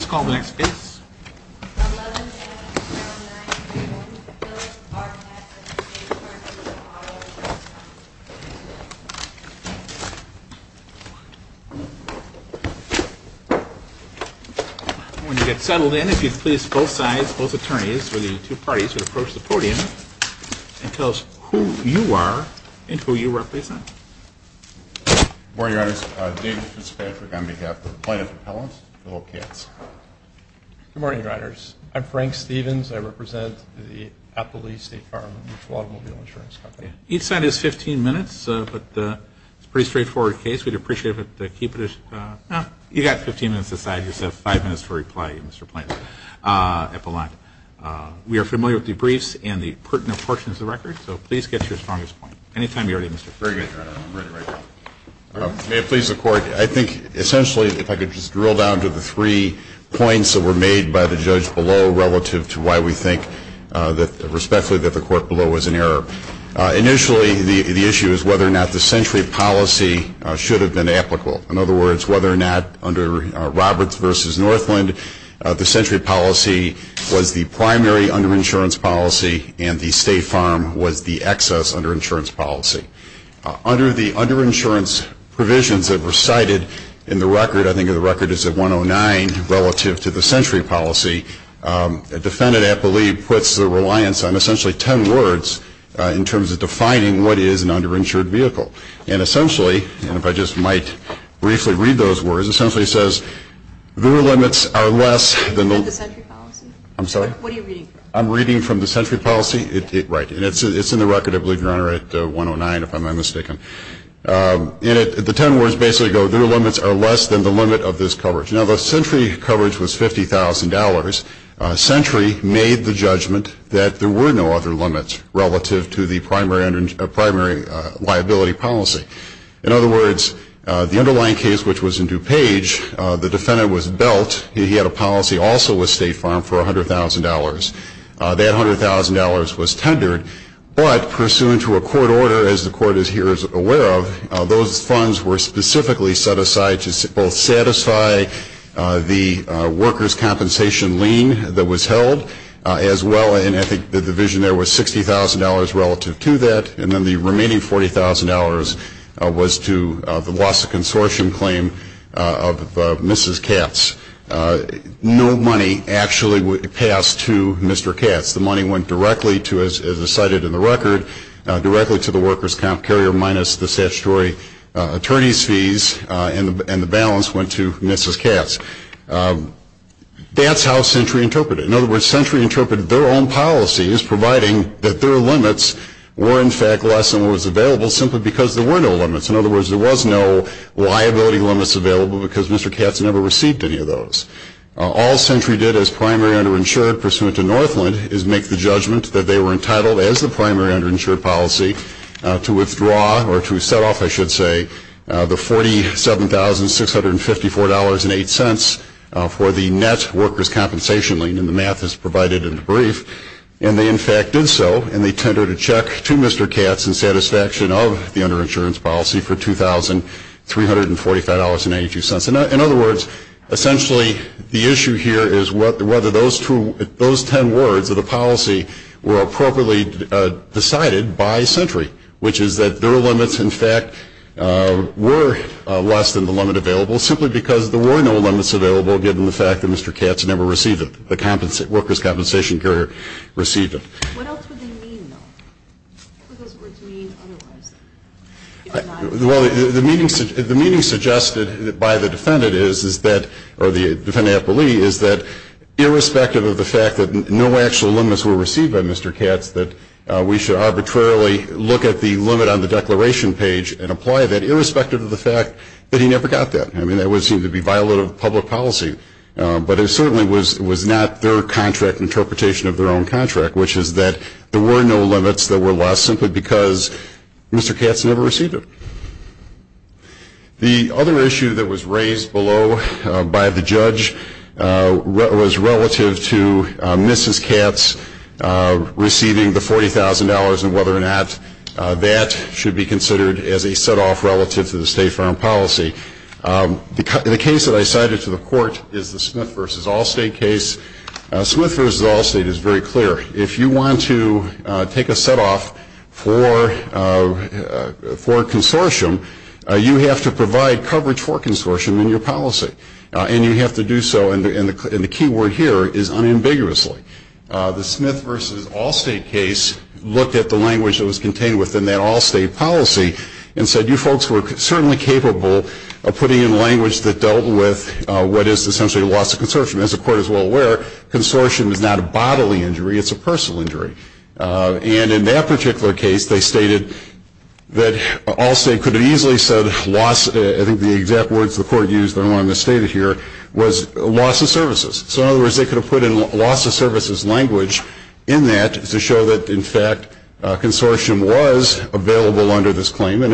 Let's call the next case. 11-7-9-9 Bill R. Katz v. State Farm Mutual Auto Insurance Company When you get settled in, if you'd please, both sides, both attorneys, whether you're two parties, would approach the podium and tell us who you are and who you represent. Good morning, Your Honors. Dave Fitzpatrick on behalf of Plaintiff Appellant for Bill Katz. Good morning, Your Honors. I'm Frank Stevens. I represent the Appley State Farm Mutual Automobile Insurance Company. Each side has 15 minutes, but it's a pretty straightforward case. We'd appreciate it if you could keep it as... No, you've got 15 minutes to decide. You still have 5 minutes to reply, Mr. Plaintiff Appellant. We are familiar with the briefs and the pertinent portions of the record, so please get to your strongest point. Anytime you're ready, Mr. Ferguson. May it please the Court, I think essentially, if I could just drill down to the three points that were made by the judge below relative to why we think that respectfully that the court below was in error. Initially, the issue is whether or not the century policy should have been applicable. In other words, whether or not under Roberts v. Northland, the century policy was the primary under insurance policy and the state farm was the excess under insurance policy. Under the under insurance provisions that were cited in the record, I think the record is at 109 relative to the century policy, a defendant, I believe, puts the reliance on essentially 10 words in terms of defining what is an under insured vehicle. And essentially, and if I just might briefly read those words, essentially says, the limits are less than... Is that the century policy? I'm sorry? What are you reading from? I'm reading from the century policy. Right. And it's in the record, I believe, Your Honor, at 109, if I'm not mistaken. And the 10 words basically go, their limits are less than the limit of this coverage. Now, the century coverage was $50,000. Century made the judgment that there were no other limits relative to the primary liability policy. In other words, the underlying case, which was in DuPage, the defendant was belt. He had a policy also with State Farm for $100,000. That $100,000 was tendered. But pursuant to a court order, as the court here is aware of, those funds were specifically set aside to both satisfy the workers' compensation lien that was held, as well, and I think the division there was $60,000 relative to that, and then the remaining $40,000 was to the loss of consortium claim of Mrs. Katz. No money actually passed to Mr. Katz. The money went directly to, as is cited in the record, directly to the workers' comp carrier minus the statutory attorney's fees, and the balance went to Mrs. Katz. That's how century interpreted it. In other words, century interpreted their own policies, providing that their limits were in fact less than what was available simply because there were no limits. In other words, there was no liability limits available because Mr. Katz never received any of those. All century did as primary underinsured pursuant to Northland is make the judgment that they were entitled, as the primary underinsured policy, to withdraw, or to set off, I should say, the $47,654.08 for the net workers' compensation lien, and the math is provided in the brief. And they, in fact, did so, and they tendered a check to Mr. Katz in satisfaction of the underinsurance policy for $2,345.92. In other words, essentially the issue here is whether those ten words of the policy were appropriately decided by century, which is that their limits, in fact, were less than the limit available simply because there were no limits available given the fact that Mr. Katz never received it, the workers' compensation carrier received it. What else would they mean, though? What would those words mean otherwise? Well, the meaning suggested by the defendant is that, or the defendant-appellee, is that irrespective of the fact that no actual limits were received by Mr. Katz, that we should arbitrarily look at the limit on the declaration page and apply that, irrespective of the fact that he never got that. I mean, that would seem to be violent of public policy. But it certainly was not their contract interpretation of their own contract, which is that there were no limits that were less simply because Mr. Katz never received it. The other issue that was raised below by the judge was relative to Mrs. Katz receiving the $40,000 and whether or not that should be considered as a set-off relative to the State Farm policy. The case that I cited to the Court is the Smith v. Allstate case. Smith v. Allstate is very clear. If you want to take a set-off for a consortium, you have to provide coverage for a consortium in your policy. And you have to do so, and the key word here is unambiguously. The Smith v. Allstate case looked at the language that was contained within that Allstate policy and said you folks were certainly capable of putting in language that dealt with what is essentially a loss of consortium. As the Court is well aware, consortium is not a bodily injury, it's a personal injury. And in that particular case, they stated that Allstate could have easily said loss, I think the exact words the Court used, I don't want to misstate it here, was loss of services. So in other words, they could have put in loss of services language in that to show that, in fact, consortium was available under this claim or,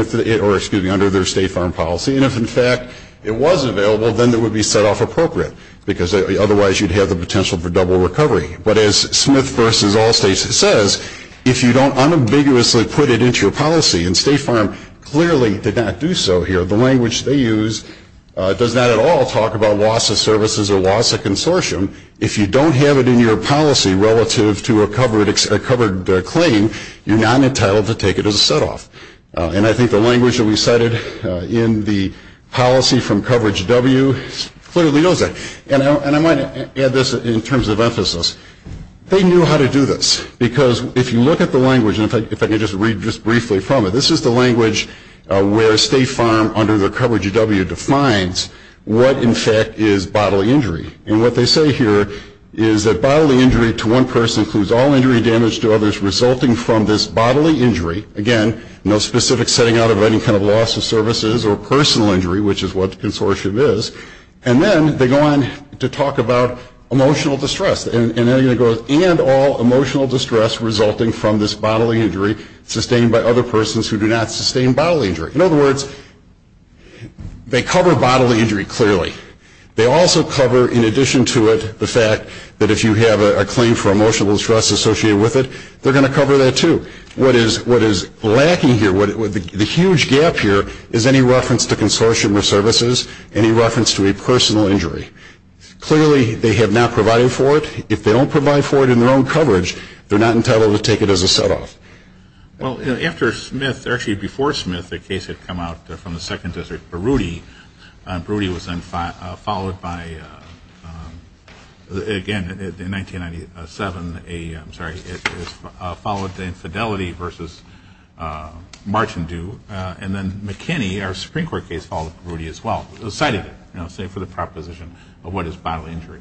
excuse me, under their State Farm policy. And if, in fact, it was available, then there would be set-off appropriate, because otherwise you'd have the potential for double recovery. But as Smith v. Allstate says, if you don't unambiguously put it into your policy, and State Farm clearly did not do so here, the language they use does not at all talk about loss of services or loss of consortium. If you don't have it in your policy relative to a covered claim, you're not entitled to take it as a set-off. And I think the language that we cited in the policy from Coverage W clearly knows that. And I might add this in terms of emphasis. They knew how to do this, because if you look at the language, and if I can just read just briefly from it, this is the language where State Farm under the Coverage W defines what, in fact, is bodily injury. And what they say here is that bodily injury to one person includes all injury damage to others resulting from this bodily injury. Again, no specific setting out of any kind of loss of services or personal injury, which is what consortium is. And then they go on to talk about emotional distress. And then it goes, and all emotional distress resulting from this bodily injury sustained by other persons who do not sustain bodily injury. In other words, they cover bodily injury clearly. They also cover, in addition to it, the fact that if you have a claim for emotional distress associated with it, they're going to cover that too. What is lacking here, the huge gap here, is any reference to consortium of services, any reference to a personal injury. Clearly, they have not provided for it. If they don't provide for it in their own coverage, they're not entitled to take it as a set-off. Well, after Smith, or actually before Smith, the case had come out from the Second District, Broody. Broody was then followed by, again, in 1997, a, I'm sorry, followed the infidelity versus March and Due. And then McKinney, our Supreme Court case, followed Broody as well. Cited it, you know, same for the proposition of what is bodily injury.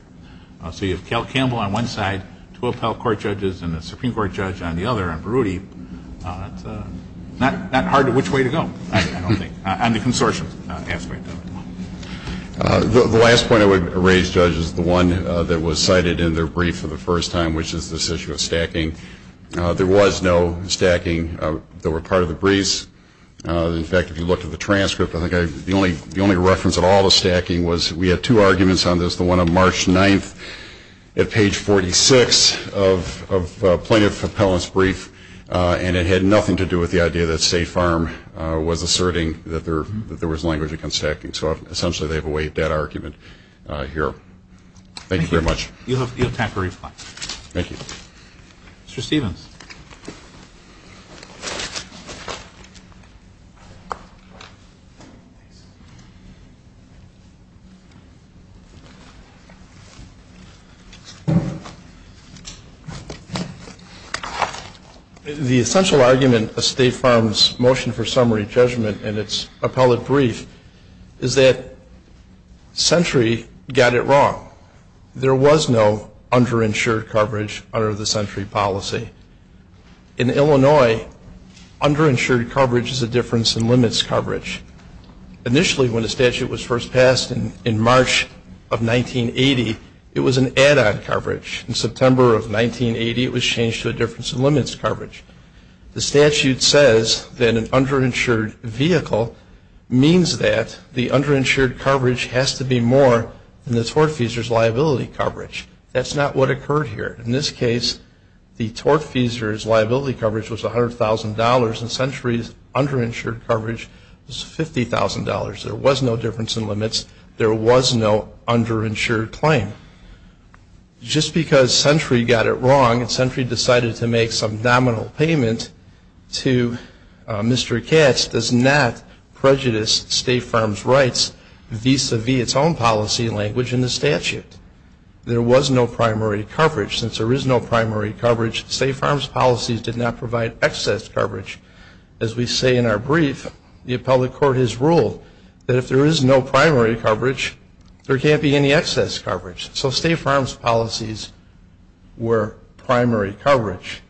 So you have Kel Campbell on one side, two appellate court judges, and a Supreme Court judge on the other, on Broody. It's not hard to which way to go, I don't think, on the consortium aspect of it. The last point I would raise, Judge, is the one that was cited in their brief for the first time, which is this issue of stacking. There was no stacking that were part of the briefs. In fact, if you look at the transcript, I think the only reference at all to stacking was we had two arguments on this, the one on March 9th at page 46 of Plaintiff Appellant's brief, and it had nothing to do with the idea that State Farm was asserting that there was language against stacking. So essentially they've awaited that argument here. Thank you very much. Thank you. You have time for reply. Thank you. Mr. Stephens. The essential argument of State Farm's motion for summary judgment in its appellate brief is that Century got it wrong. There was no underinsured coverage under the Century policy. In Illinois, underinsured coverage is a difference in limits coverage. Initially when the statute was first passed in March of 1980, it was an add-on coverage. In September of 1980, it was changed to a difference in limits coverage. The statute says that an underinsured vehicle means that the underinsured coverage has to be more than the tortfeasor's liability coverage. That's not what occurred here. In this case, the tortfeasor's liability coverage was $100,000, and Century's underinsured coverage was $50,000. There was no difference in limits. There was no underinsured claim. Just because Century got it wrong and Century decided to make some nominal payment to Mr. Katz does not prejudice State Farm's rights vis-à-vis its own policy language in the statute. There was no primary coverage. Since there is no primary coverage, State Farm's policies did not provide excess coverage. As we say in our brief, the appellate court has ruled that if there is no primary coverage, there can't be any excess coverage. So State Farm's policies were primary coverage.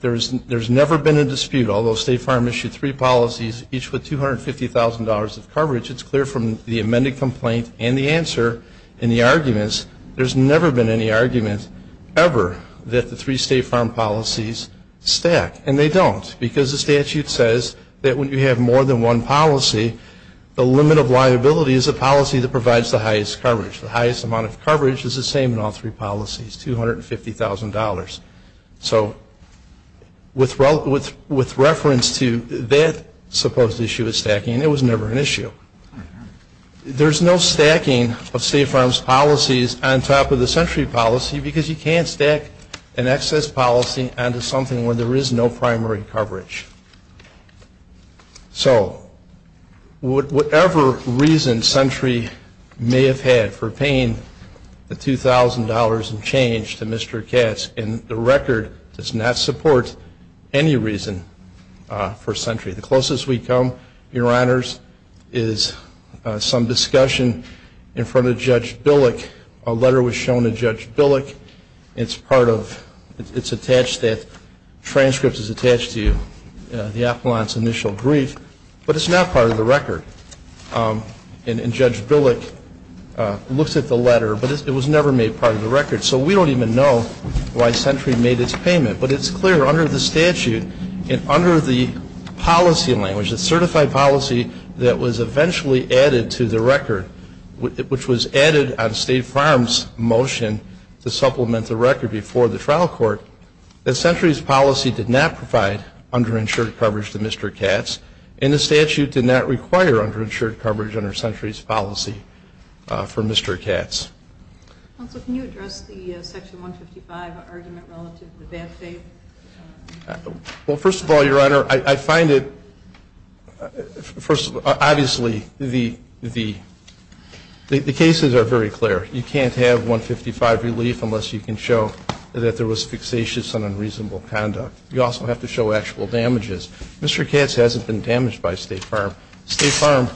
There's never been a dispute, although State Farm issued three policies, each with $250,000 of coverage. It's clear from the amended complaint and the answer in the arguments. There's never been any argument ever that the three State Farm policies stack, and they don't, because the statute says that when you have more than one policy, the limit of liability is a policy that provides the highest coverage. The highest amount of coverage is the same in all three policies, $250,000. So with reference to that supposed issue of stacking, it was never an issue. There's no stacking of State Farm's policies on top of the Century policy because you can't stack an excess policy onto something where there is no primary coverage. So whatever reason Century may have had for paying the $2,000 in change to Mr. Katz in the record does not support any reason for Century. The closest we come, Your Honors, is some discussion in front of Judge Billick. A letter was shown to Judge Billick. It's part of, it's attached, that transcript is attached to the appliance initial brief, but it's not part of the record. And Judge Billick looks at the letter, but it was never made part of the record. So we don't even know why Century made its payment. But it's clear under the statute and under the policy language, the certified policy that was eventually added to the record, which was added on State Farm's motion to supplement the record before the trial court, that Century's policy did not provide underinsured coverage to Mr. Katz, and the statute did not require underinsured coverage under Century's policy for Mr. Katz. Counsel, can you address the Section 155 argument relative to the bad faith? Well, first of all, Your Honor, I find it, first, obviously, the cases are very clear. You can't have 155 relief unless you can show that there was fixatious and unreasonable conduct. You also have to show actual damages. Mr. Katz hasn't been damaged by State Farm. State Farm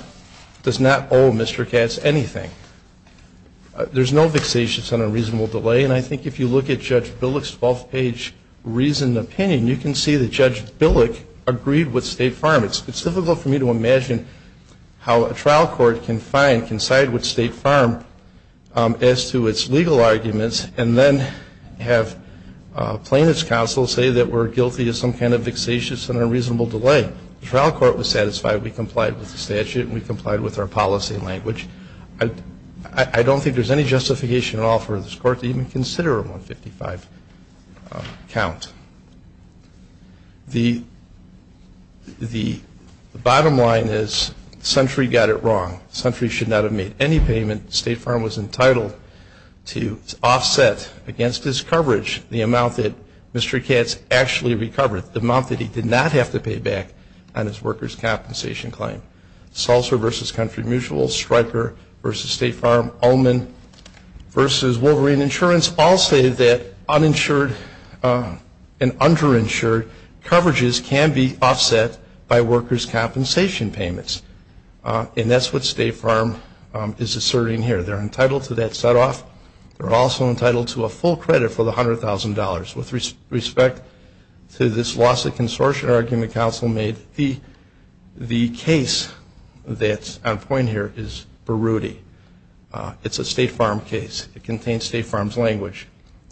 does not owe Mr. Katz anything. There's no fixatious and unreasonable delay, and I think if you look at Judge Billick's 12-page reasoned opinion, you can see that Judge Billick agreed with State Farm. It's difficult for me to imagine how a trial court can find, can side with State Farm as to its legal arguments and then have plaintiff's counsel say that we're guilty of some kind of fixatious and unreasonable delay. The trial court was satisfied. We complied with the statute and we complied with our policy language. I don't think there's any justification at all for this Court to even consider a 155 count. The bottom line is Suntry got it wrong. Suntry should not have made any payment. State Farm was entitled to offset against his coverage the amount that Mr. Katz actually recovered, the amount that he did not have to pay back on his workers' compensation claim. Seltzer v. Country Mutual, Stryker v. State Farm, Ullman v. Wolverine Insurance all say that uninsured and underinsured coverages can be offset by workers' compensation payments, and that's what State Farm is asserting here. They're entitled to that setoff. They're also entitled to a full credit for the $100,000. With respect to this lawsuit consortium argument counsel made, the case that's on point here is Berruti. It's a State Farm case. It contains State Farm's language.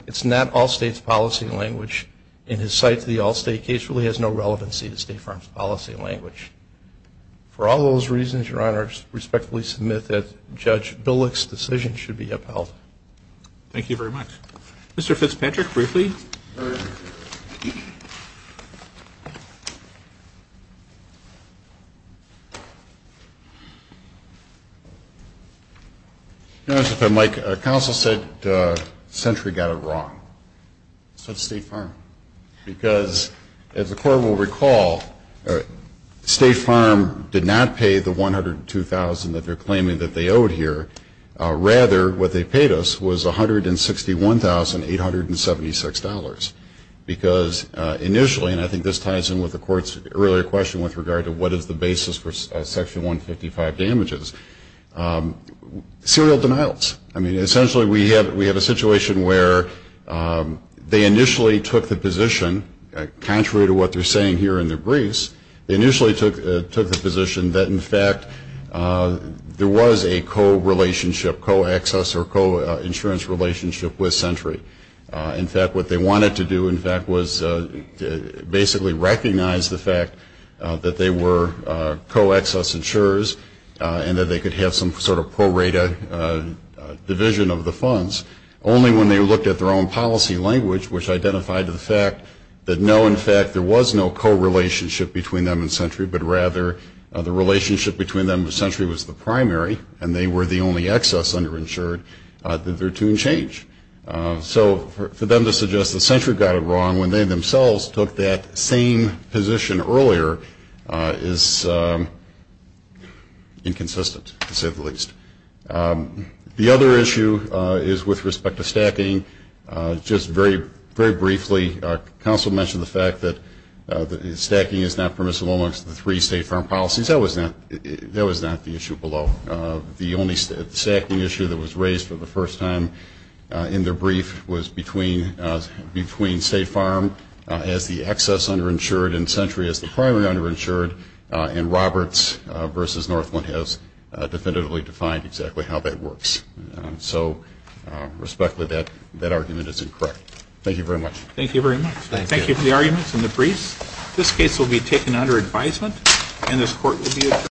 It's not Allstate's policy language, and his cite to the Allstate case really has no relevancy to State Farm's policy language. For all those reasons, Your Honor, I respectfully submit that Judge Billick's decision should be upheld. Thank you very much. Mr. Fitzpatrick, briefly. If I might, counsel said Century got it wrong. So did State Farm. Because as the Court will recall, State Farm did not pay the $102,000 that they're claiming that they owed here. Rather, what they paid us was $161,876. Because initially, and I think this ties in with the Court's earlier question with regard to what is the basis for Section 155 damages, serial denials. I mean, essentially we have a situation where they initially took the position, contrary to what they're saying here in their briefs, they initially took the position that, in fact, there was a co-relationship, co-access, or co-insurance relationship with Century. In fact, what they wanted to do, in fact, was basically recognize the fact that they were co-access insurers and that they could have some sort of prorated division of the funds, only when they looked at their own policy language, which identified the fact that, no, in fact, there was no co-relationship between them and Century, but rather the relationship between them and Century was the primary and they were the only access underinsured through their tuned change. So for them to suggest that Century got it wrong when they themselves took that same position earlier is inconsistent, to say the least. The other issue is with respect to stacking. Just very briefly, Council mentioned the fact that stacking is not permissible amongst the three State Farm policies. That was not the issue below. The only stacking issue that was raised for the first time in their brief was between State Farm as the access underinsured and Century as the primary underinsured, and Roberts v. Northland has definitively defined exactly how that works. So respectfully, that argument is incorrect. Thank you very much. Thank you very much. Thank you. Thank you for the arguments and the briefs. This case will be taken under advisement and this Court will be adjourned.